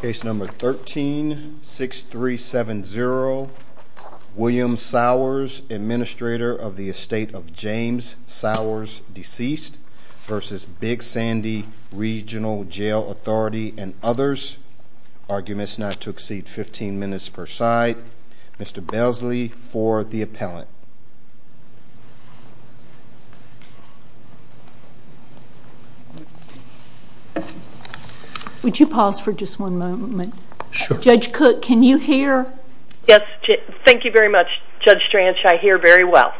Case number 13-6370, William Sours, administrator of the estate of James Sours, deceased, v. Big Sandy Regional Jail Authority and others, arguments not to exceed 15 minutes per side. Mr. Belsley for the appellant. Would you pause for just one moment? Sure. Judge Cook, can you hear? Yes. Thank you very much, Judge Stransche. I hear very well.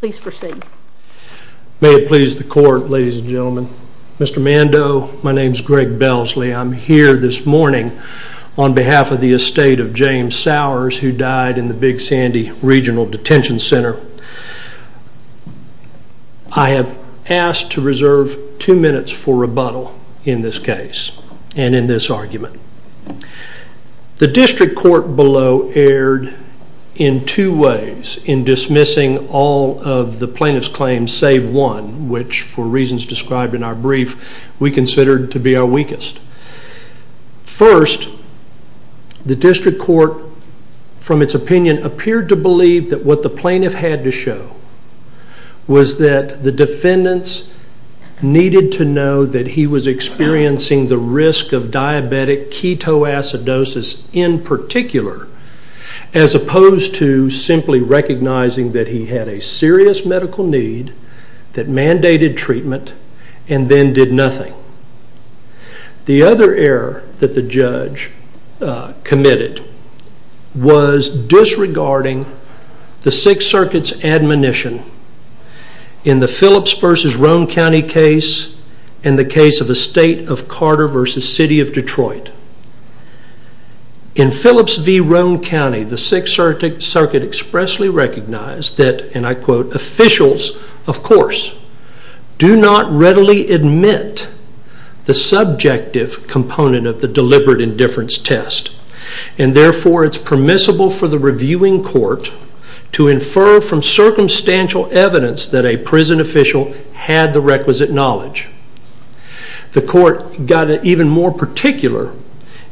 Please proceed. May it please the court, ladies and gentlemen, Mr. Mando, my name is Greg Belsley. I'm here this morning on behalf of the estate of James Sours who died in the Big Sandy Regional Detention Center. I have asked to reserve two minutes for rebuttal in this case and in this argument. The district court below erred in two ways in dismissing all of the plaintiff's claims save one, which for reasons described in our brief, we considered to be our weakest. First, the district court, from its opinion, appeared to believe that what the plaintiff had to show was that the defendants needed to know that he was experiencing the risk of diabetic ketoacidosis in particular as opposed to simply recognizing that he had a serious medical need that mandated treatment and then did nothing. The other error that the judge committed was disregarding the Sixth Circuit's admonition in the Phillips v. Roane County case and the case of the state of Carter v. City of Detroit. In Phillips v. Roane County, the Sixth Circuit expressly recognized that, and I quote, officials, of course, do not readily admit the subjective component of the deliberate indifference test and therefore it's permissible for the reviewing court to infer from circumstantial evidence that a prison official had the requisite knowledge. The court got even more particular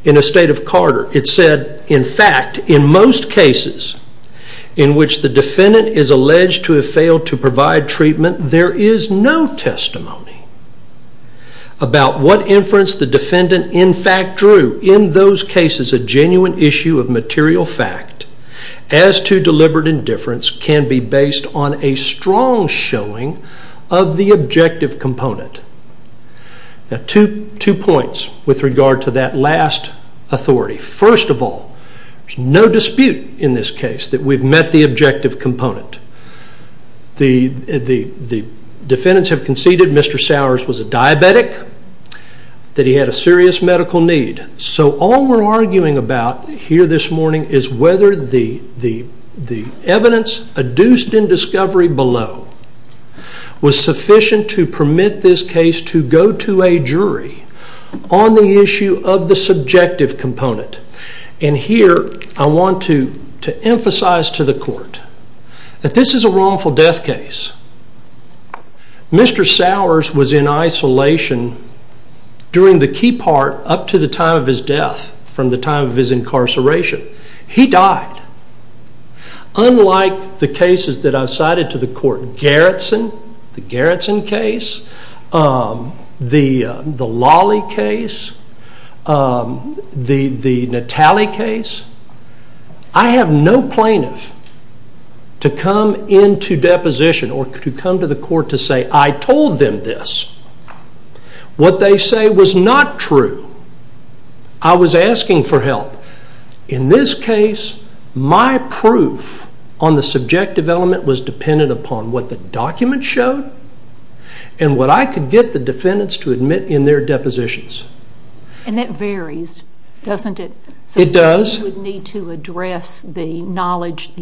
in the state of Carter. It said, in fact, in most cases in which the defendant is alleged to have failed to provide treatment, there is no testimony about what inference the defendant in fact drew. In those cases, a genuine issue of material fact as to deliberate indifference can be Two points with regard to that last authority. First of all, there's no dispute in this case that we've met the objective component. The defendants have conceded Mr. Sowers was a diabetic, that he had a serious medical need, so all we're arguing about here this morning is whether the evidence adduced in this case to go to a jury on the issue of the subjective component, and here I want to emphasize to the court that this is a wrongful death case. Mr. Sowers was in isolation during the key part up to the time of his death, from the time of his incarceration. He died. Unlike the cases that I've cited to the court, the Garretson case, the Lawley case, the Natale case, I have no plaintiff to come into deposition or to come to the court to say, I told them this. What they say was not true. I was asking for help. In this case, my proof on the subjective element was dependent upon what the document showed and what I could get the defendants to admit in their depositions. And that varies, doesn't it? It does. So you would need to address the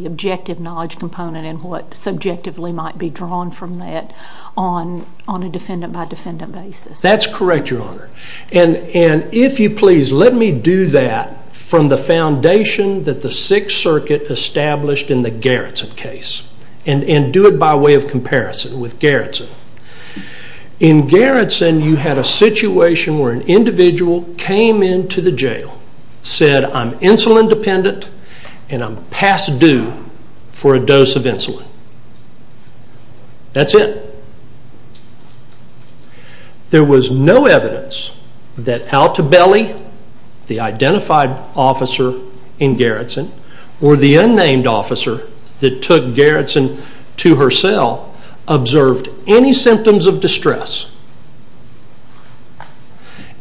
objective knowledge component and what subjectively might be drawn from that on a defendant-by-defendant basis. That's correct, Your Honor. And if you please let me do that from the foundation that the Sixth Circuit established in the Garretson case and do it by way of comparison with Garretson. In Garretson, you had a situation where an individual came into the jail, said, I'm insulin dependent and I'm past due for a dose of insulin. That's it. There was no evidence that Al Tabeli, the identified officer in Garretson, or the unnamed officer that took Garretson to her cell, observed any symptoms of distress.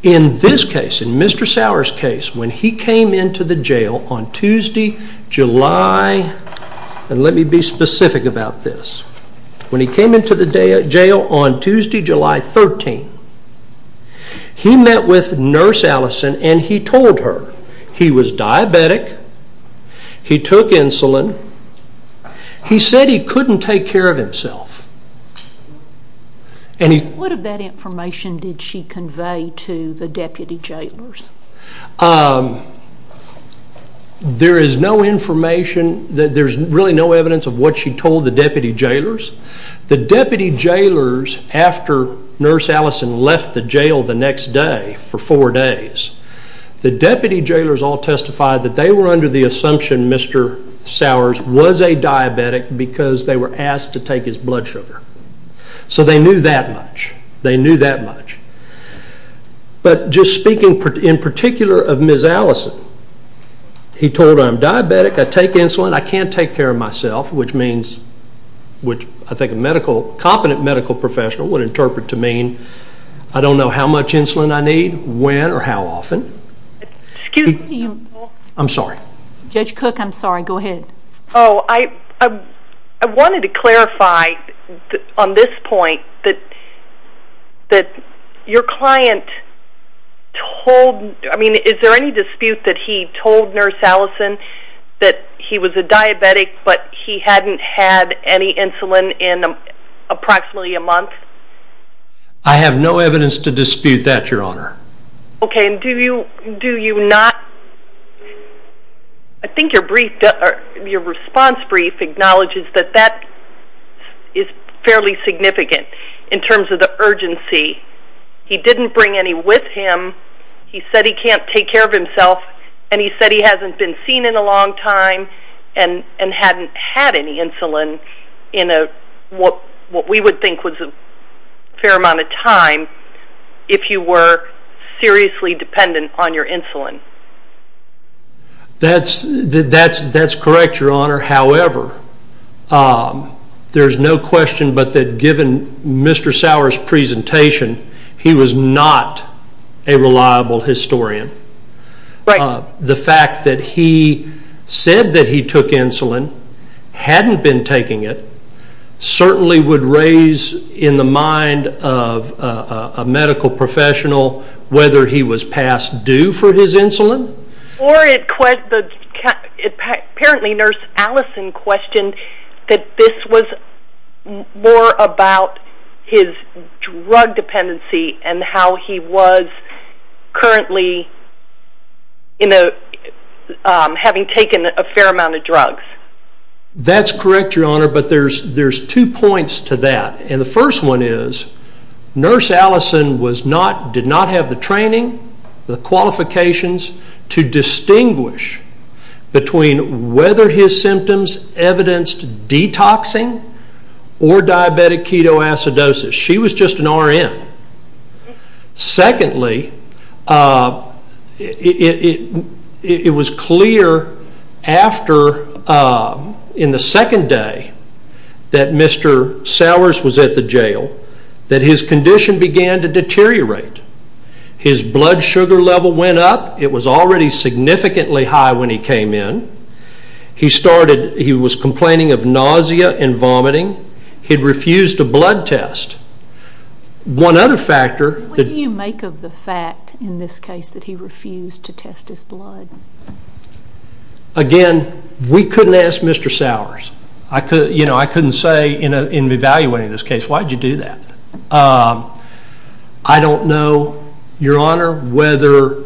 In this case, in Mr. Sauer's case, when he came into the jail on Tuesday, July, and let him go to jail on Tuesday, July 13th, he met with Nurse Allison and he told her he was diabetic, he took insulin, he said he couldn't take care of himself. What of that information did she convey to the deputy jailers? There is no information, there's really no evidence of what she told the deputy jailers. The deputy jailers, after Nurse Allison left the jail the next day for four days, the deputy jailers all testified that they were under the assumption Mr. Sauer was a diabetic because they were asked to take his blood sugar. So they knew that much, they knew that much. But just speaking in particular of Ms. Allison, he told her, I'm diabetic, I take insulin, I can't take care of myself, which means, which I think a medical, competent medical professional would interpret to mean, I don't know how much insulin I need, when, or how often. Excuse me. I'm sorry. Judge Cook, I'm sorry, go ahead. Oh, I wanted to clarify on this point that your client told, I mean, is there any dispute that he told Nurse Allison that he was a diabetic but he hadn't had any insulin in approximately a month? I have no evidence to dispute that, Your Honor. Okay, and do you not, I think your response brief acknowledges that that is fairly significant in terms of the urgency. He didn't bring any with him, he said he can't take care of himself, and he said he hasn't been seen in a long time and hadn't had any insulin in what we would think was a fair amount of time if you were seriously dependent on your insulin. That's, that's correct, Your Honor, however, there's no question but that given Mr. Sauer's presentation, he was not a reliable historian. The fact that he said that he took insulin, hadn't been taking it, certainly would raise in the mind of a medical professional whether he was past due for his insulin. Or it, apparently Nurse Allison questioned that this was more about his drug dependency and how he was currently, you know, having taken a fair amount of drugs. That's correct, Your Honor, but there's two points to that, and the first one is Nurse Allison did not have the training, the qualifications to distinguish between whether his symptoms evidenced detoxing or diabetic ketoacidosis. She was just an RN. Secondly, it was clear after, in the second day that Mr. Sauer's was at the jail that his condition began to deteriorate. His blood sugar level went up. It was already significantly high when he came in. He started, he was complaining of nausea and vomiting. He refused a blood test. One other factor... What do you make of the fact, in this case, that he refused to test his blood? Again, we couldn't ask Mr. Sauer's. I couldn't say in evaluating this case, why did you do that? I don't know, Your Honor, whether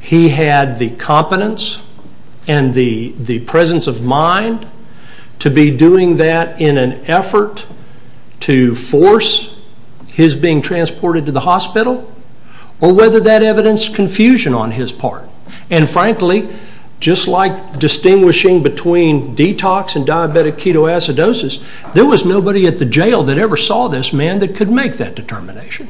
he had the competence and the presence of mind to be doing that in an effort to force his being transported to the hospital, or whether that evidenced confusion on his part. And frankly, just like distinguishing between detox and diabetic ketoacidosis, there was nobody at the jail that ever saw this man that could make that determination.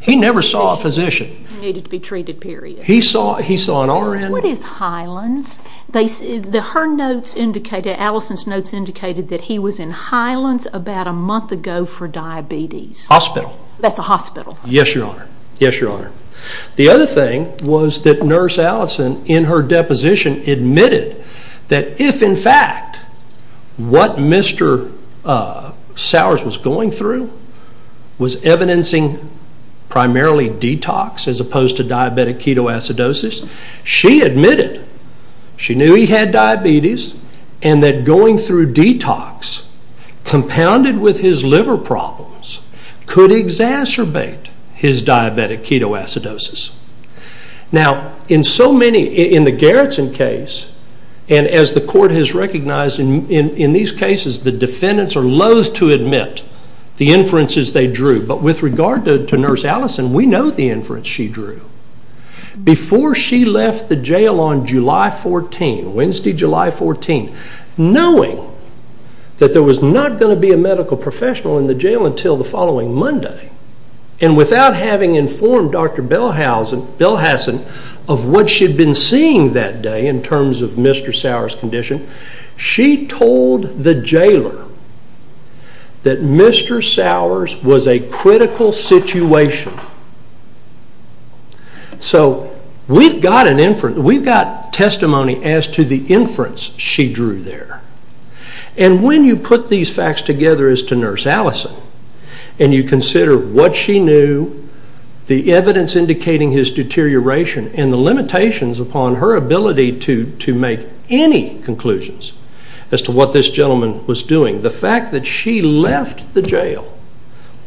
He never saw a physician. He needed to be treated, period. He saw an RN. What is Hyland's? Her notes indicated, Allison's notes indicated that he was in Hyland's about a month ago for diabetes. Hospital. That's a hospital. Yes, Your Honor. Yes, Your Honor. The other thing was that Nurse Allison, in her deposition, admitted that if, in fact, what Mr. Sauer's was going through was evidencing primarily detox as opposed to diabetic ketoacidosis, she admitted she knew he had diabetes and that going through detox, compounded with his liver problems, could exacerbate his diabetic ketoacidosis. Now in so many, in the Garrison case, and as the court has recognized in these cases, the defendants are loathe to admit the inferences they drew, but with regard to Nurse Allison, we know the inference she drew. Before she left the jail on July 14, Wednesday, July 14, knowing that there was not going to be a medical professional in the jail until the following Monday, and without having informed Dr. Belhassen of what she had been seeing that day in terms of Mr. Sauer's condition, she told the jailer that Mr. Sauer's was a critical situation. So we've got testimony as to the inference she drew there. And when you put these facts together as to Nurse Allison, and you consider what she knew, the evidence indicating his deterioration, and the limitations upon her ability to make any conclusions as to what this gentleman was doing, the fact that she left the jail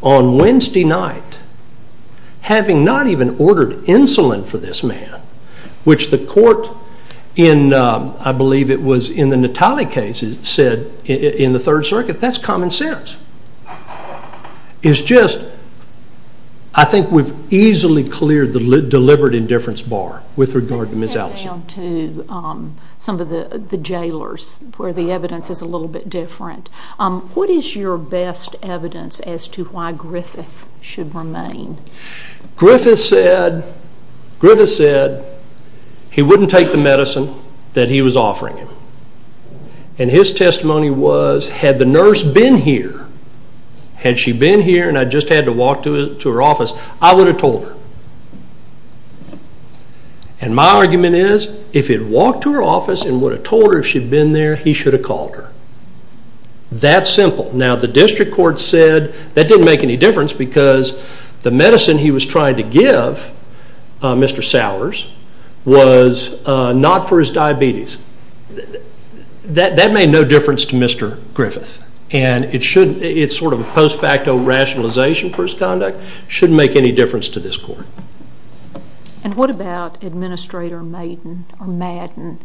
on Wednesday night, having not even ordered insulin for this man, which the court in, I believe it was in the Natale case, said in the Third Circuit, that's common sense. It's just, I think we've easily cleared the deliberate indifference bar with regard to Miss Allison. Let's stay down to some of the jailers where the evidence is a little bit different. What is your best evidence as to why Griffith should remain? Griffith said he wouldn't take the medicine that he was offering him. And his testimony was, had the nurse been here, had she been here and I just had to walk to her office, I would have told her. And my argument is, if he'd walked to her office and would have told her if she'd been there, he should have called her. That simple. Now the district court said that didn't make any difference because the medicine he was trying to give Mr. Sowers was not for his diabetes. That made no difference to Mr. Griffith. And it should, it's sort of a post facto rationalization for his conduct, shouldn't make any difference to this court. And what about Administrator Madden?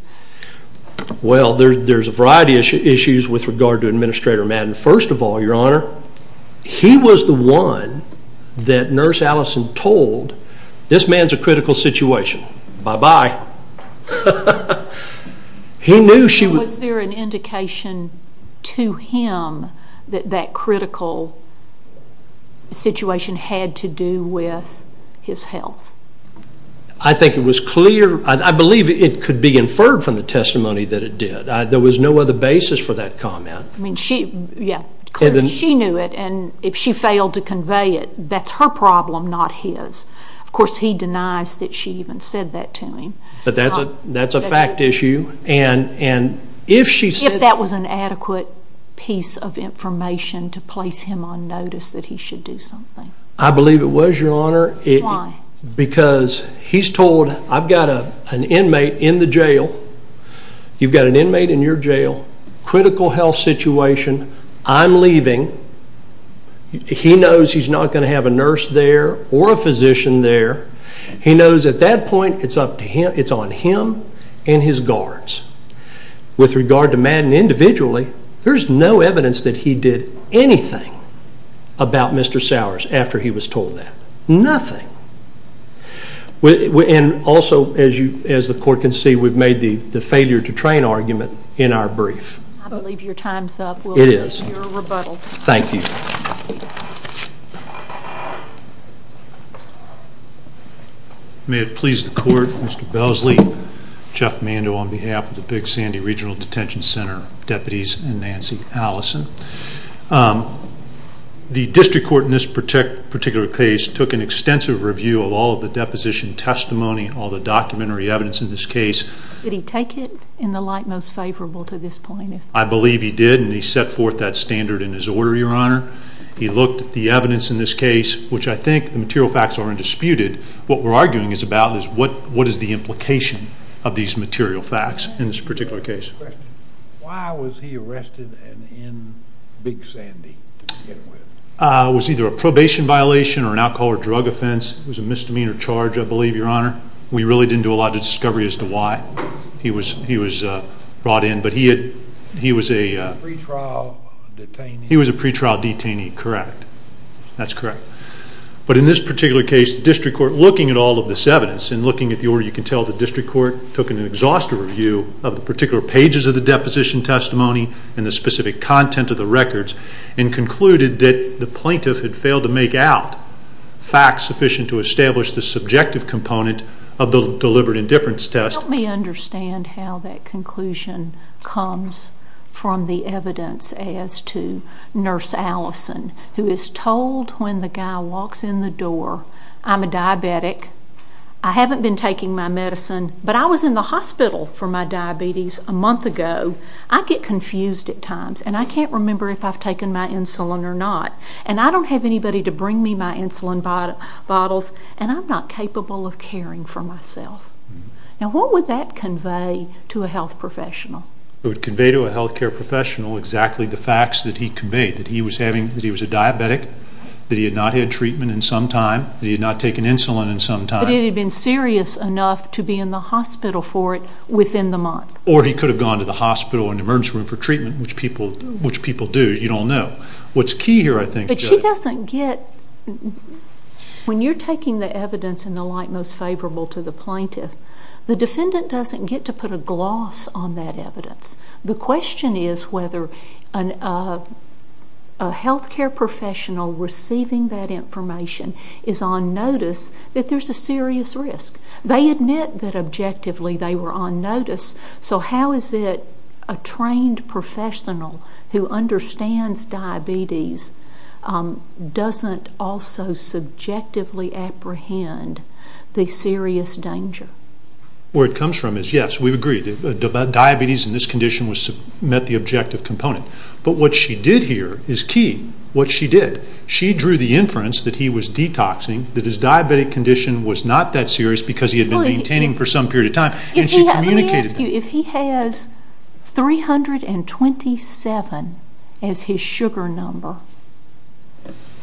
Well, there's a variety of issues with regard to Administrator Madden. First of all, Your Honor, he was the one that Nurse Allison told, this man's a critical situation. Bye-bye. Was there an indication to him that that critical situation had to do with his health? I think it was clear, I believe it could be inferred from the testimony that it did. There was no other basis for that comment. I mean, she, yeah, clearly she knew it and if she failed to convey it, that's her problem, not his. Of course, he denies that she even said that to him. But that's a fact issue and if she said that. If that was an adequate piece of information to place him on notice that he should do something. I believe it was, Your Honor. Why? Because he's told, I've got an inmate in the jail, you've got an inmate in your jail, critical health situation, I'm leaving. He knows he's not going to have a nurse there or a physician there. He knows at that point it's up to him, it's on him and his guards. With regard to Madden individually, there's no evidence that he did anything about Mr. Madden's told that, nothing. And also, as the court can see, we've made the failure to train argument in our brief. I believe your time's up. It is. You're rebuttaled. Thank you. May it please the court, Mr. Belsley, Jeff Mando on behalf of the Big Sandy Regional Detention Center, deputies and Nancy Allison. The district court in this particular case took an extensive review of all of the deposition testimony, all the documentary evidence in this case. Did he take it in the light most favorable to this point? I believe he did and he set forth that standard in his order, Your Honor. He looked at the evidence in this case, which I think the material facts are undisputed. What we're arguing is about is what is the implication of these material facts in this particular case. Why was he arrested and in Big Sandy to begin with? Was either a probation violation or an alcohol or drug offense. It was a misdemeanor charge, I believe, Your Honor. We really didn't do a lot of discovery as to why he was brought in, but he was a pre-trial detainee. Correct. That's correct. But in this particular case, the district court, looking at all of this evidence and looking at the order, you can tell the district court took an exhaustive review of the particular pages of the deposition testimony and the specific content of the records and concluded that the plaintiff had failed to make out facts sufficient to establish the subjective component of the deliberate indifference test. Help me understand how that conclusion comes from the evidence as to Nurse Allison, who is told when the guy walks in the door, I'm a diabetic, I haven't been taking my medicine, but I was in the hospital for my diabetes a month ago, I get confused at times, and I can't remember if I've taken my insulin or not. And I don't have anybody to bring me my insulin bottles, and I'm not capable of caring for myself. Now, what would that convey to a health professional? It would convey to a health care professional exactly the facts that he conveyed, that he was a diabetic, that he had not had treatment in some time, that he had not taken insulin in some time. But it had been serious enough to be in the hospital for it within the month. Or he could have gone to the hospital or an emergency room for treatment, which people do, you don't know. What's key here, I think... But she doesn't get... When you're taking the evidence in the light most favorable to the plaintiff, the defendant doesn't get to put a gloss on that evidence. The question is whether a health care professional receiving that information is on notice that there's a serious risk. They admit that objectively they were on notice. So how is it a trained professional who understands diabetes doesn't also subjectively apprehend the serious danger? Where it comes from is, yes, we agree, diabetes in this condition met the objective component. But what she did here is key. What she did. She drew the inference that he was detoxing, that his diabetic condition was not that serious because he had been maintaining for some period of time, and she communicated that. If he has 327 as his sugar number,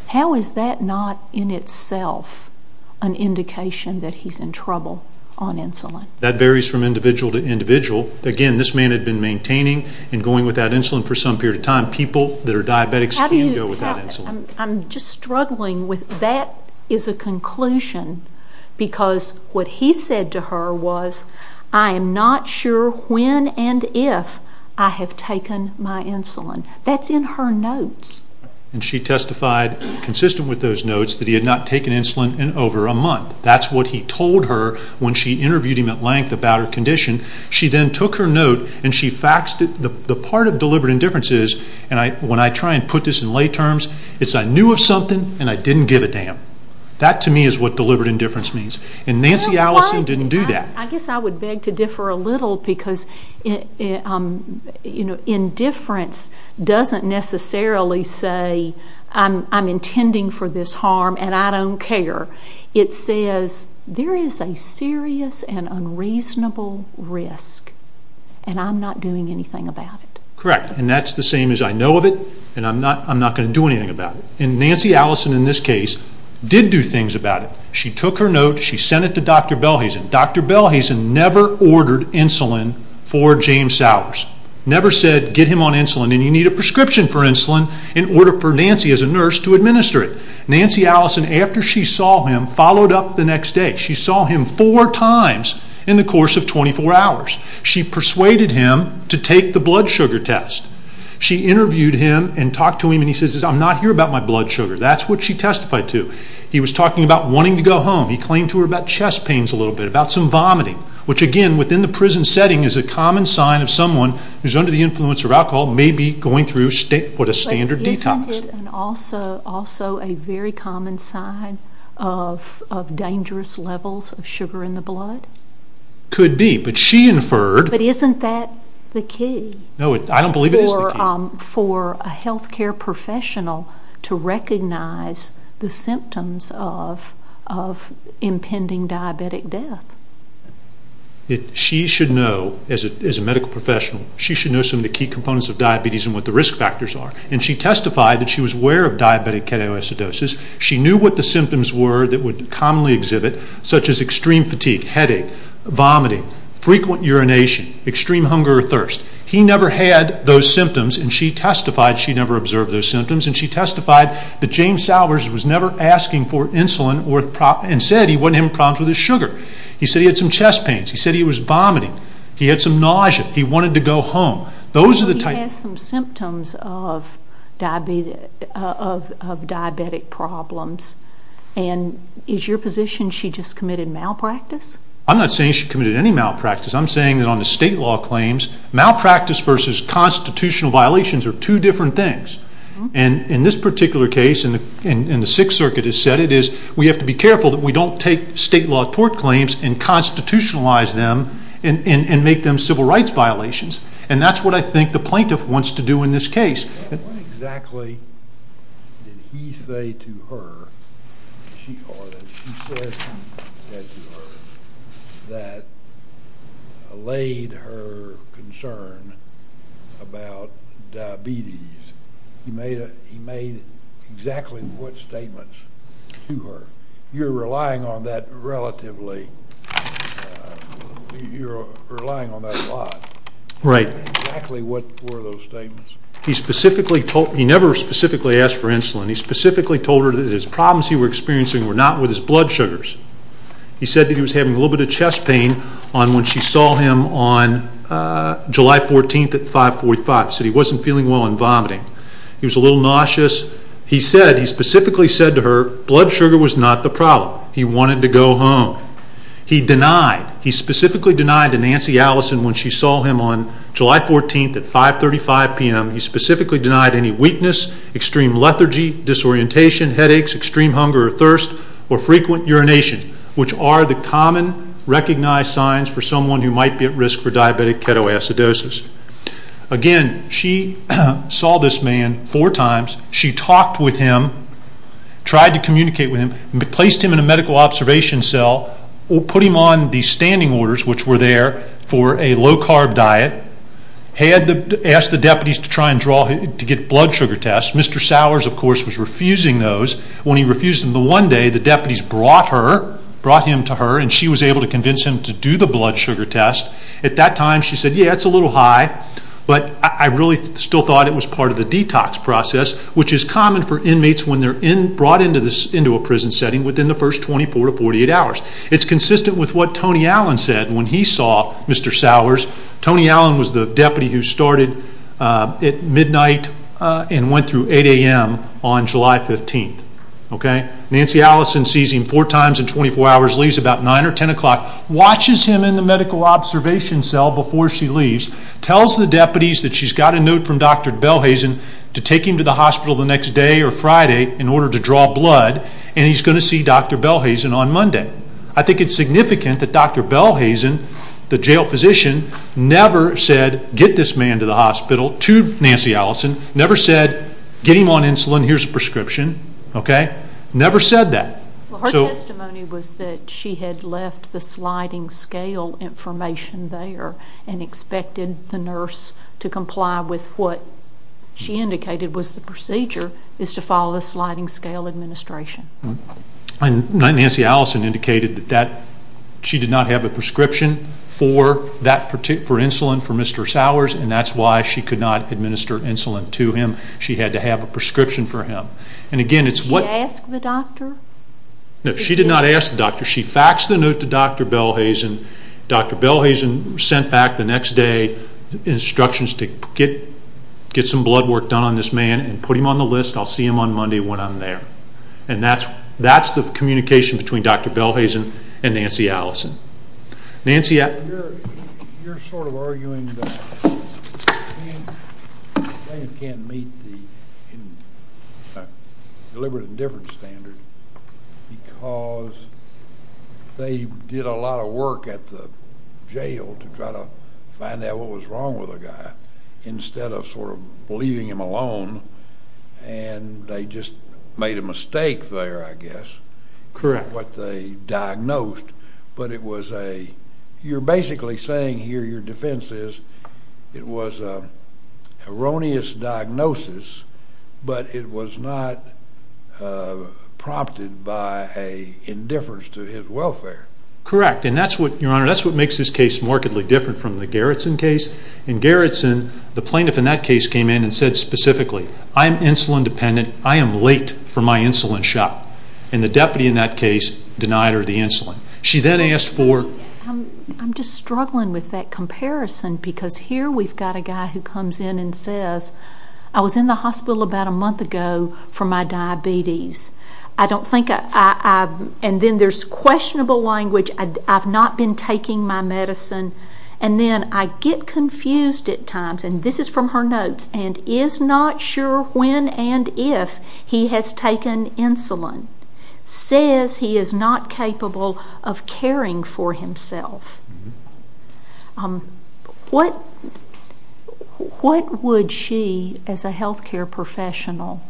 how is that not in itself an indication that he's in trouble on insulin? That varies from individual to individual. Again, this man had been maintaining and going without insulin for some period of time. People that are diabetics can't go without insulin. I'm just struggling with that as a conclusion because what he said to her was, I am not sure when and if I have taken my insulin. That's in her notes. She testified consistent with those notes that he had not taken insulin in over a month. That's what he told her when she interviewed him at length about her condition. She then took her note and she faxed it. The part of deliberate indifference is, when I try and put this in lay terms, it's I knew of something and I didn't give a damn. That to me is what deliberate indifference means. Nancy Allison didn't do that. I guess I would beg to differ a little because indifference doesn't necessarily say I'm intending for this harm and I don't care. It says there is a serious and unreasonable risk and I'm not doing anything about it. Correct. That's the same as I know of it and I'm not going to do anything about it. Nancy Allison in this case did do things about it. She took her note and she sent it to Dr. Belhazen. Dr. Belhazen never ordered insulin for James Sowers. Never said get him on insulin and you need a prescription for insulin in order for Nancy as a nurse to administer it. Nancy Allison, after she saw him, followed up the next day. She saw him four times in the course of 24 hours. She persuaded him to take the blood sugar test. She interviewed him and talked to him and he says I'm not here about my blood sugar. That's what she testified to. He was talking about wanting to go home. He claimed to her about chest pains a little bit, about some vomiting, which again within the prison setting is a common sign of someone who is under the influence of alcohol maybe going through what a standard detox. And also a very common sign of dangerous levels of sugar in the blood? Could be, but she inferred. But isn't that the key? No, I don't believe it is the key. For a health care professional to recognize the symptoms of impending diabetic death. She should know, as a medical professional, she should know some of the key components of diabetes and what the risk factors are. And she testified that she was aware of diabetic ketoacidosis. She knew what the symptoms were that would commonly exhibit such as extreme fatigue, headache, vomiting, frequent urination, extreme hunger or thirst. He never had those symptoms and she testified she never observed those symptoms. And she testified that James Sowers was never asking for insulin and said he wasn't having problems with his sugar. He said he had some chest pains. He said he was vomiting. He had some nausea. He wanted to go home. So he has some symptoms of diabetic problems. And is your position she just committed malpractice? I'm not saying she committed any malpractice. I'm saying that on the state law claims, malpractice versus constitutional violations are two different things. And in this particular case, and the Sixth Circuit has said it, is we have to be careful that we don't take state law tort claims and constitutionalize them and make them civil rights violations. And that's what I think the plaintiff wants to do in this case. What exactly did he say to her that allayed her concern about diabetes? He made exactly what statements to her. You're relying on that relatively, you're relying on that a lot. Right. Exactly what were those statements? He specifically told, he never specifically asked for insulin. He specifically told her that his problems he was experiencing were not with his blood sugars. He said that he was having a little bit of chest pain when she saw him on July 14th at 545. He said he wasn't feeling well and vomiting. He was a little nauseous. He said, he specifically said to her, blood sugar was not the problem. He wanted to go home. He denied, he specifically denied to Nancy Allison when she saw him on July 14th at 535 p.m., he specifically denied any weakness, extreme lethargy, disorientation, headaches, extreme hunger or thirst, or frequent urination, which are the common recognized signs for someone who might be at risk for diabetic ketoacidosis. Again, she saw this man four times. She talked with him, tried to communicate with him, placed him in a medical observation cell, put him on the standing orders which were there for a low-carb diet, asked the deputies to try and get blood sugar tests. Mr. Sowers, of course, was refusing those. When he refused them, one day the deputies brought him to her and she was able to convince him to do the blood sugar test. At that time she said, yeah, it's a little high, but I really still thought it was part of the detox process, which is common for inmates when they're brought into a prison setting within the first 24 to 48 hours. It's consistent with what Tony Allen said when he saw Mr. Sowers. Tony Allen was the deputy who started at midnight and went through 8 a.m. on July 15th. Nancy Allison sees him four times in 24 hours, leaves about 9 or 10 o'clock, watches him in the medical observation cell before she leaves, tells the deputies that she's got a note from Dr. Belhazen to take him to the hospital the next day or Friday in order to draw blood, and he's going to see Dr. Belhazen on Monday. I think it's significant that Dr. Belhazen, the jail physician, never said get this man to the hospital to Nancy Allison, never said get him on insulin, here's a prescription, never said that. Her testimony was that she had left the sliding scale information there and expected the nurse to comply with what she indicated was the procedure, is to follow the sliding scale administration. Nancy Allison indicated that she did not have a prescription for insulin for Mr. Sowers, and that's why she could not administer insulin to him. She had to have a prescription for him. Did she ask the doctor? No, she did not ask the doctor. She faxed the note to Dr. Belhazen, Dr. Belhazen sent back the next day instructions to get some blood work done on this man and put him on the list, I'll see him on Monday when I'm there. And that's the communication between Dr. Belhazen and Nancy Allison. Nancy, yeah. You're sort of arguing that they can't meet the deliberate indifference standard because they did a lot of work at the jail to try to find out what was wrong with the guy instead of sort of leaving him alone, and they just made a mistake there, I guess. Correct. It wasn't quite what they diagnosed, but it was a, you're basically saying here your defense is it was an erroneous diagnosis, but it was not prompted by an indifference to his welfare. Correct, and that's what, Your Honor, that's what makes this case markedly different from the Gerritsen case. In Gerritsen, the plaintiff in that case came in and said specifically, I'm insulin dependent, I am late for my insulin shot. And the deputy in that case denied her the insulin. She then asked for I'm just struggling with that comparison because here we've got a guy who comes in and says, I was in the hospital about a month ago for my diabetes. I don't think I, and then there's questionable language, I've not been taking my medicine. And then I get confused at times, and this is from her notes, and is not sure when and if he has taken insulin, says he is not capable of caring for himself. What would she, as a health care professional,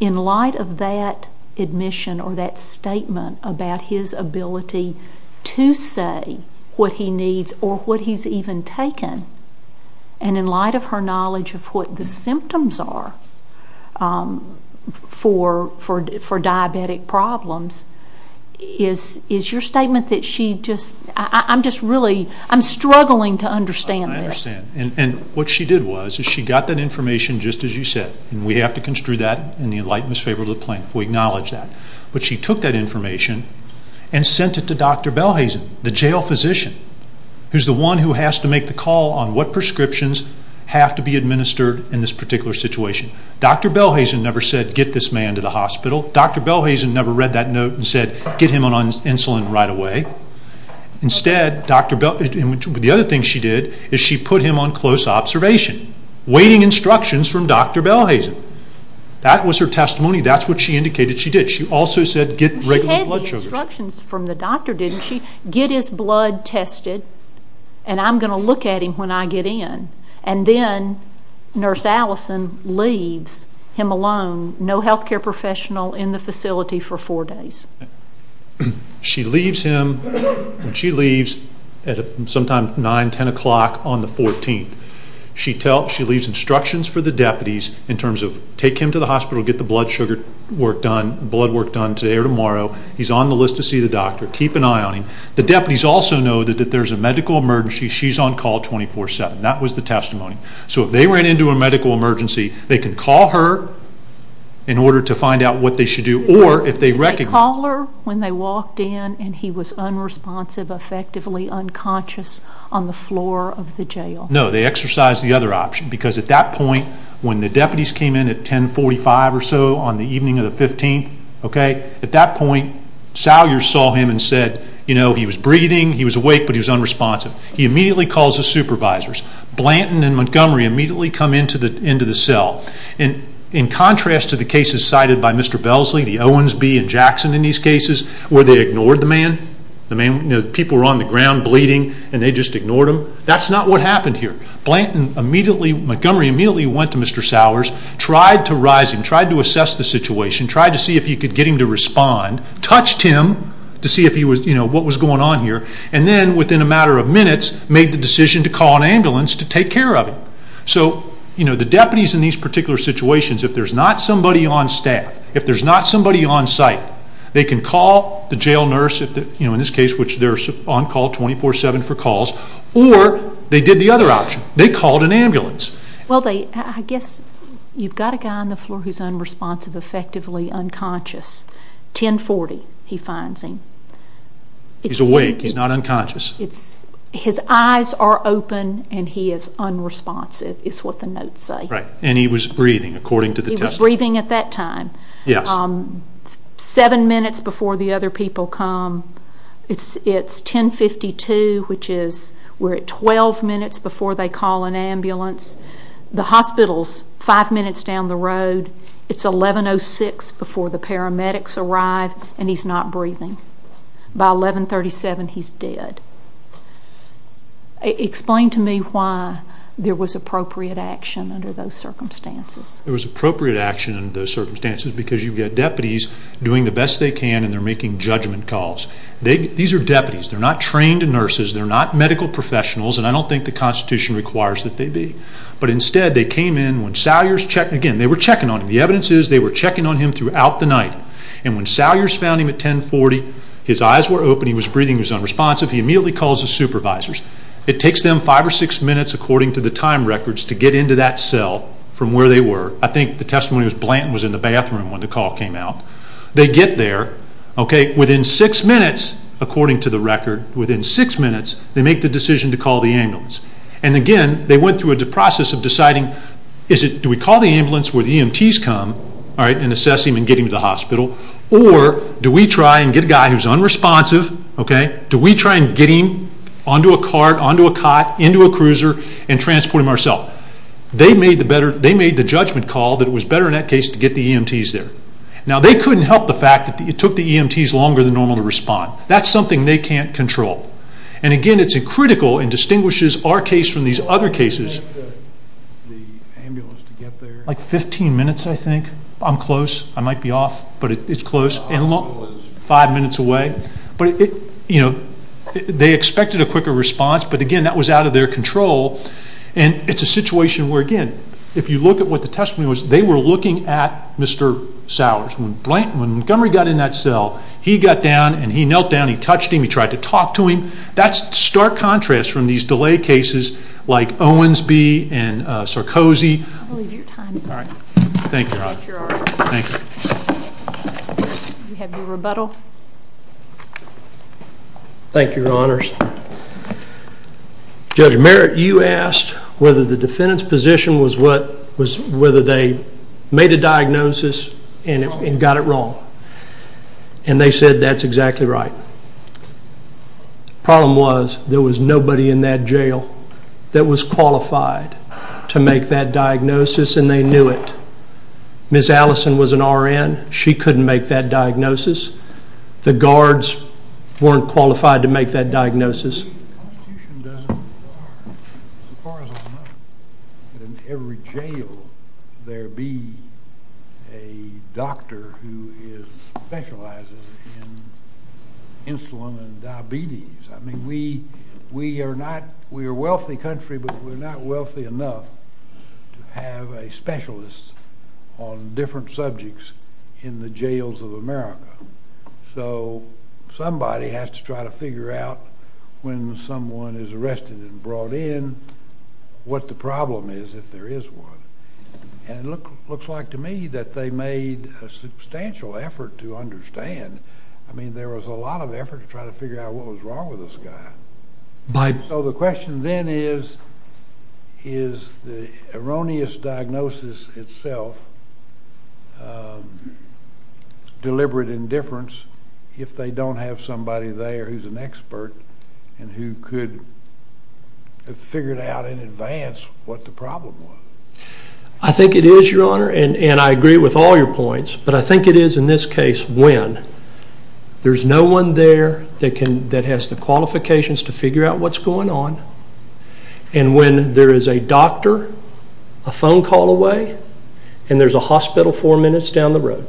in light of that admission or that statement about his ability to say what he needs or what he's even taken, and in light of her knowledge of what the symptoms are for diabetic problems, is your statement that she just, I'm just really, I'm struggling to understand this. I understand. And what she did was, is she got that information just as you said, and we have to construe that in the enlightenment's favor to the plaintiff. We acknowledge that. But she took that information and sent it to Dr. Belhazen, the jail physician, who's the one who has to make the call on what prescriptions have to be administered in this particular situation. Dr. Belhazen never said, get this man to the hospital. Dr. Belhazen never read that note and said, get him on insulin right away. Instead, Dr. Belhazen, the other thing she did, is she put him on close observation, waiting instructions from Dr. Belhazen. That was her testimony. That's what she indicated she did. She also said, get regular blood sugars. She got instructions from the doctor, didn't she? Get his blood tested, and I'm going to look at him when I get in. And then Nurse Allison leaves him alone, no health care professional in the facility for four days. She leaves him, she leaves at sometimes 9, 10 o'clock on the 14th. She leaves instructions for the deputies in terms of take him to the hospital, get the blood sugar work done, blood work done today or tomorrow. He's on the list to see the doctor. Keep an eye on him. The deputies also know that there's a medical emergency. She's on call 24-7. That was the testimony. So if they ran into a medical emergency, they can call her in order to find out what they should do. Or if they recognize... Did they call her when they walked in and he was unresponsive, effectively unconscious on the floor of the jail? No. They exercised the other option because at that point, when the deputies came in at 1045 or so on the evening of the 15th, at that point, Sowers saw him and said he was breathing, he was awake, but he was unresponsive. He immediately calls the supervisors. Blanton and Montgomery immediately come into the cell. In contrast to the cases cited by Mr. Belsley, the Owensby, and Jackson in these cases where they ignored the man, the people were on the ground bleeding and they just ignored him, that's not what happened here. Montgomery immediately went to Mr. Sowers, tried to rise him, tried to assess the situation, tried to see if he could get him to respond, touched him to see what was going on here, and then within a matter of minutes, made the decision to call an ambulance to take care of him. So the deputies in these particular situations, if there's not somebody on staff, if there's not somebody on site, they can call the jail nurse, in this case, which they're on call 24-7 for calls, or they did the other option. They called an ambulance. I guess you've got a guy on the floor who's unresponsive, effectively unconscious. 10-40 he finds him. He's awake, he's not unconscious. His eyes are open and he is unresponsive is what the notes say. And he was breathing, according to the testimony. He was breathing at that time. Seven minutes before the other people come, it's 10-52, which is we're at 12 minutes before they call an ambulance. The hospital's five minutes down the road. It's 11-06 before the paramedics arrive, and he's not breathing. By 11-37, he's dead. Explain to me why there was appropriate action under those circumstances. There was appropriate action under those circumstances because you've got deputies doing the best they can, and they're making judgment calls. These are deputies. They're not trained nurses. They're not medical professionals, and I don't think the Constitution requires that they be. But instead, they came in. Again, they were checking on him. The evidence is they were checking on him throughout the night. And when Salyers found him at 10-40, his eyes were open, he was breathing, he was unresponsive, he immediately calls his supervisors. It takes them five or six minutes, according to the time records, to get into that cell from where they were. I think the testimony was Blanton was in the bathroom when the call came out. They get there. Within six minutes, according to the record, they make the decision to call the ambulance. And again, they went through a process of deciding, do we call the ambulance where the EMTs come and assess him and get him to the hospital, or do we try and get a guy who's unresponsive, do we try and get him onto a cart, onto a cot, into a cruiser, and transport him ourselves? They made the judgment call that it was better in that case to get the EMTs there. Now, they couldn't help the fact that it took the EMTs longer than normal to respond. That's something they can't control. And again, it's critical and distinguishes our case from these other cases. Like 15 minutes, I think. I'm close. I might be off, but it's close. Five minutes away. They expected a quicker response, but again, that was out of their control. And it's a situation where, again, if you look at what the testimony was, they were looking at Mr. Sowers. When Montgomery got in that cell, he got down, and he knelt down, he touched him, he tried to talk to him. That's stark contrast from these delay cases like Owensby and Sarkozy. I believe your time is up. Thank you, Your Honor. You have your rebuttal. Thank you, Your Honors. Judge Merritt, you asked whether the defendant's position was whether they made a diagnosis and got it wrong. And they said that's exactly right. The problem was there was nobody in that jail that was qualified to make that diagnosis, and they knew it. Ms. Allison was an RN. She couldn't make that diagnosis. The guards weren't qualified to make that diagnosis. Why would every jail there be a doctor who specializes in insulin and diabetes? I mean, we are a wealthy country, but we're not wealthy enough to have a specialist on different subjects in the jails of America. So somebody has to try to figure out when someone is arrested and brought in what the problem is if there is one. And it looks like to me that they made a substantial effort to understand. I mean, there was a lot of effort to try to figure out what was wrong with this guy. So the question then is, is the erroneous diagnosis itself deliberate indifference if they don't have somebody there who's an expert and who could have figured out in advance what the problem was? I think it is, Your Honor, and I agree with all your points, but I think it is in this case when there's no one there that has the qualifications to figure out what's going on, and when there is a doctor, a phone call away, and there's a hospital four minutes down the road.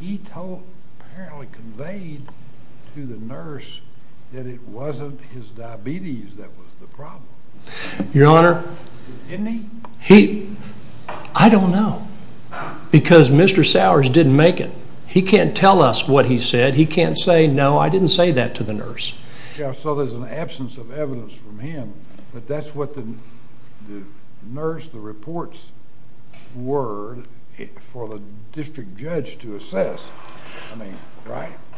He apparently conveyed to the nurse that it wasn't his diabetes that was the problem. Your Honor? Didn't he? I don't know because Mr. Sowers didn't make it. He can't tell us what he said. He can't say, no, I didn't say that to the nurse. So there's an absence of evidence from him, but that's what the nurse, the reports were for the district judge to assess.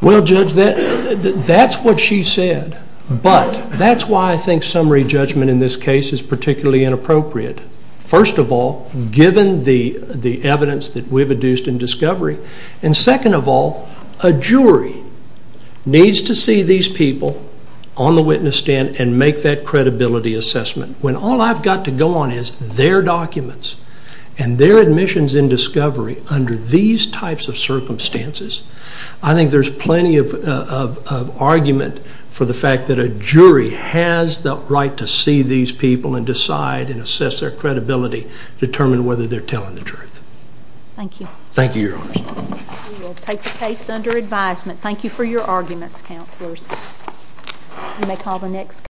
Well, Judge, that's what she said, but that's why I think summary judgment in this case is particularly inappropriate. First of all, given the evidence that we've induced in discovery, and second of all, a jury needs to see these people on the witness stand and make that credibility assessment. When all I've got to go on is their documents and their admissions in discovery under these types of circumstances, I think there's plenty of argument for the fact that a jury has the right to see these people and decide and assess their credibility, determine whether they're telling the truth. Thank you. Thank you, Your Honor. We will take the case under advisement. Thank you for your arguments, counselors. You may call the next...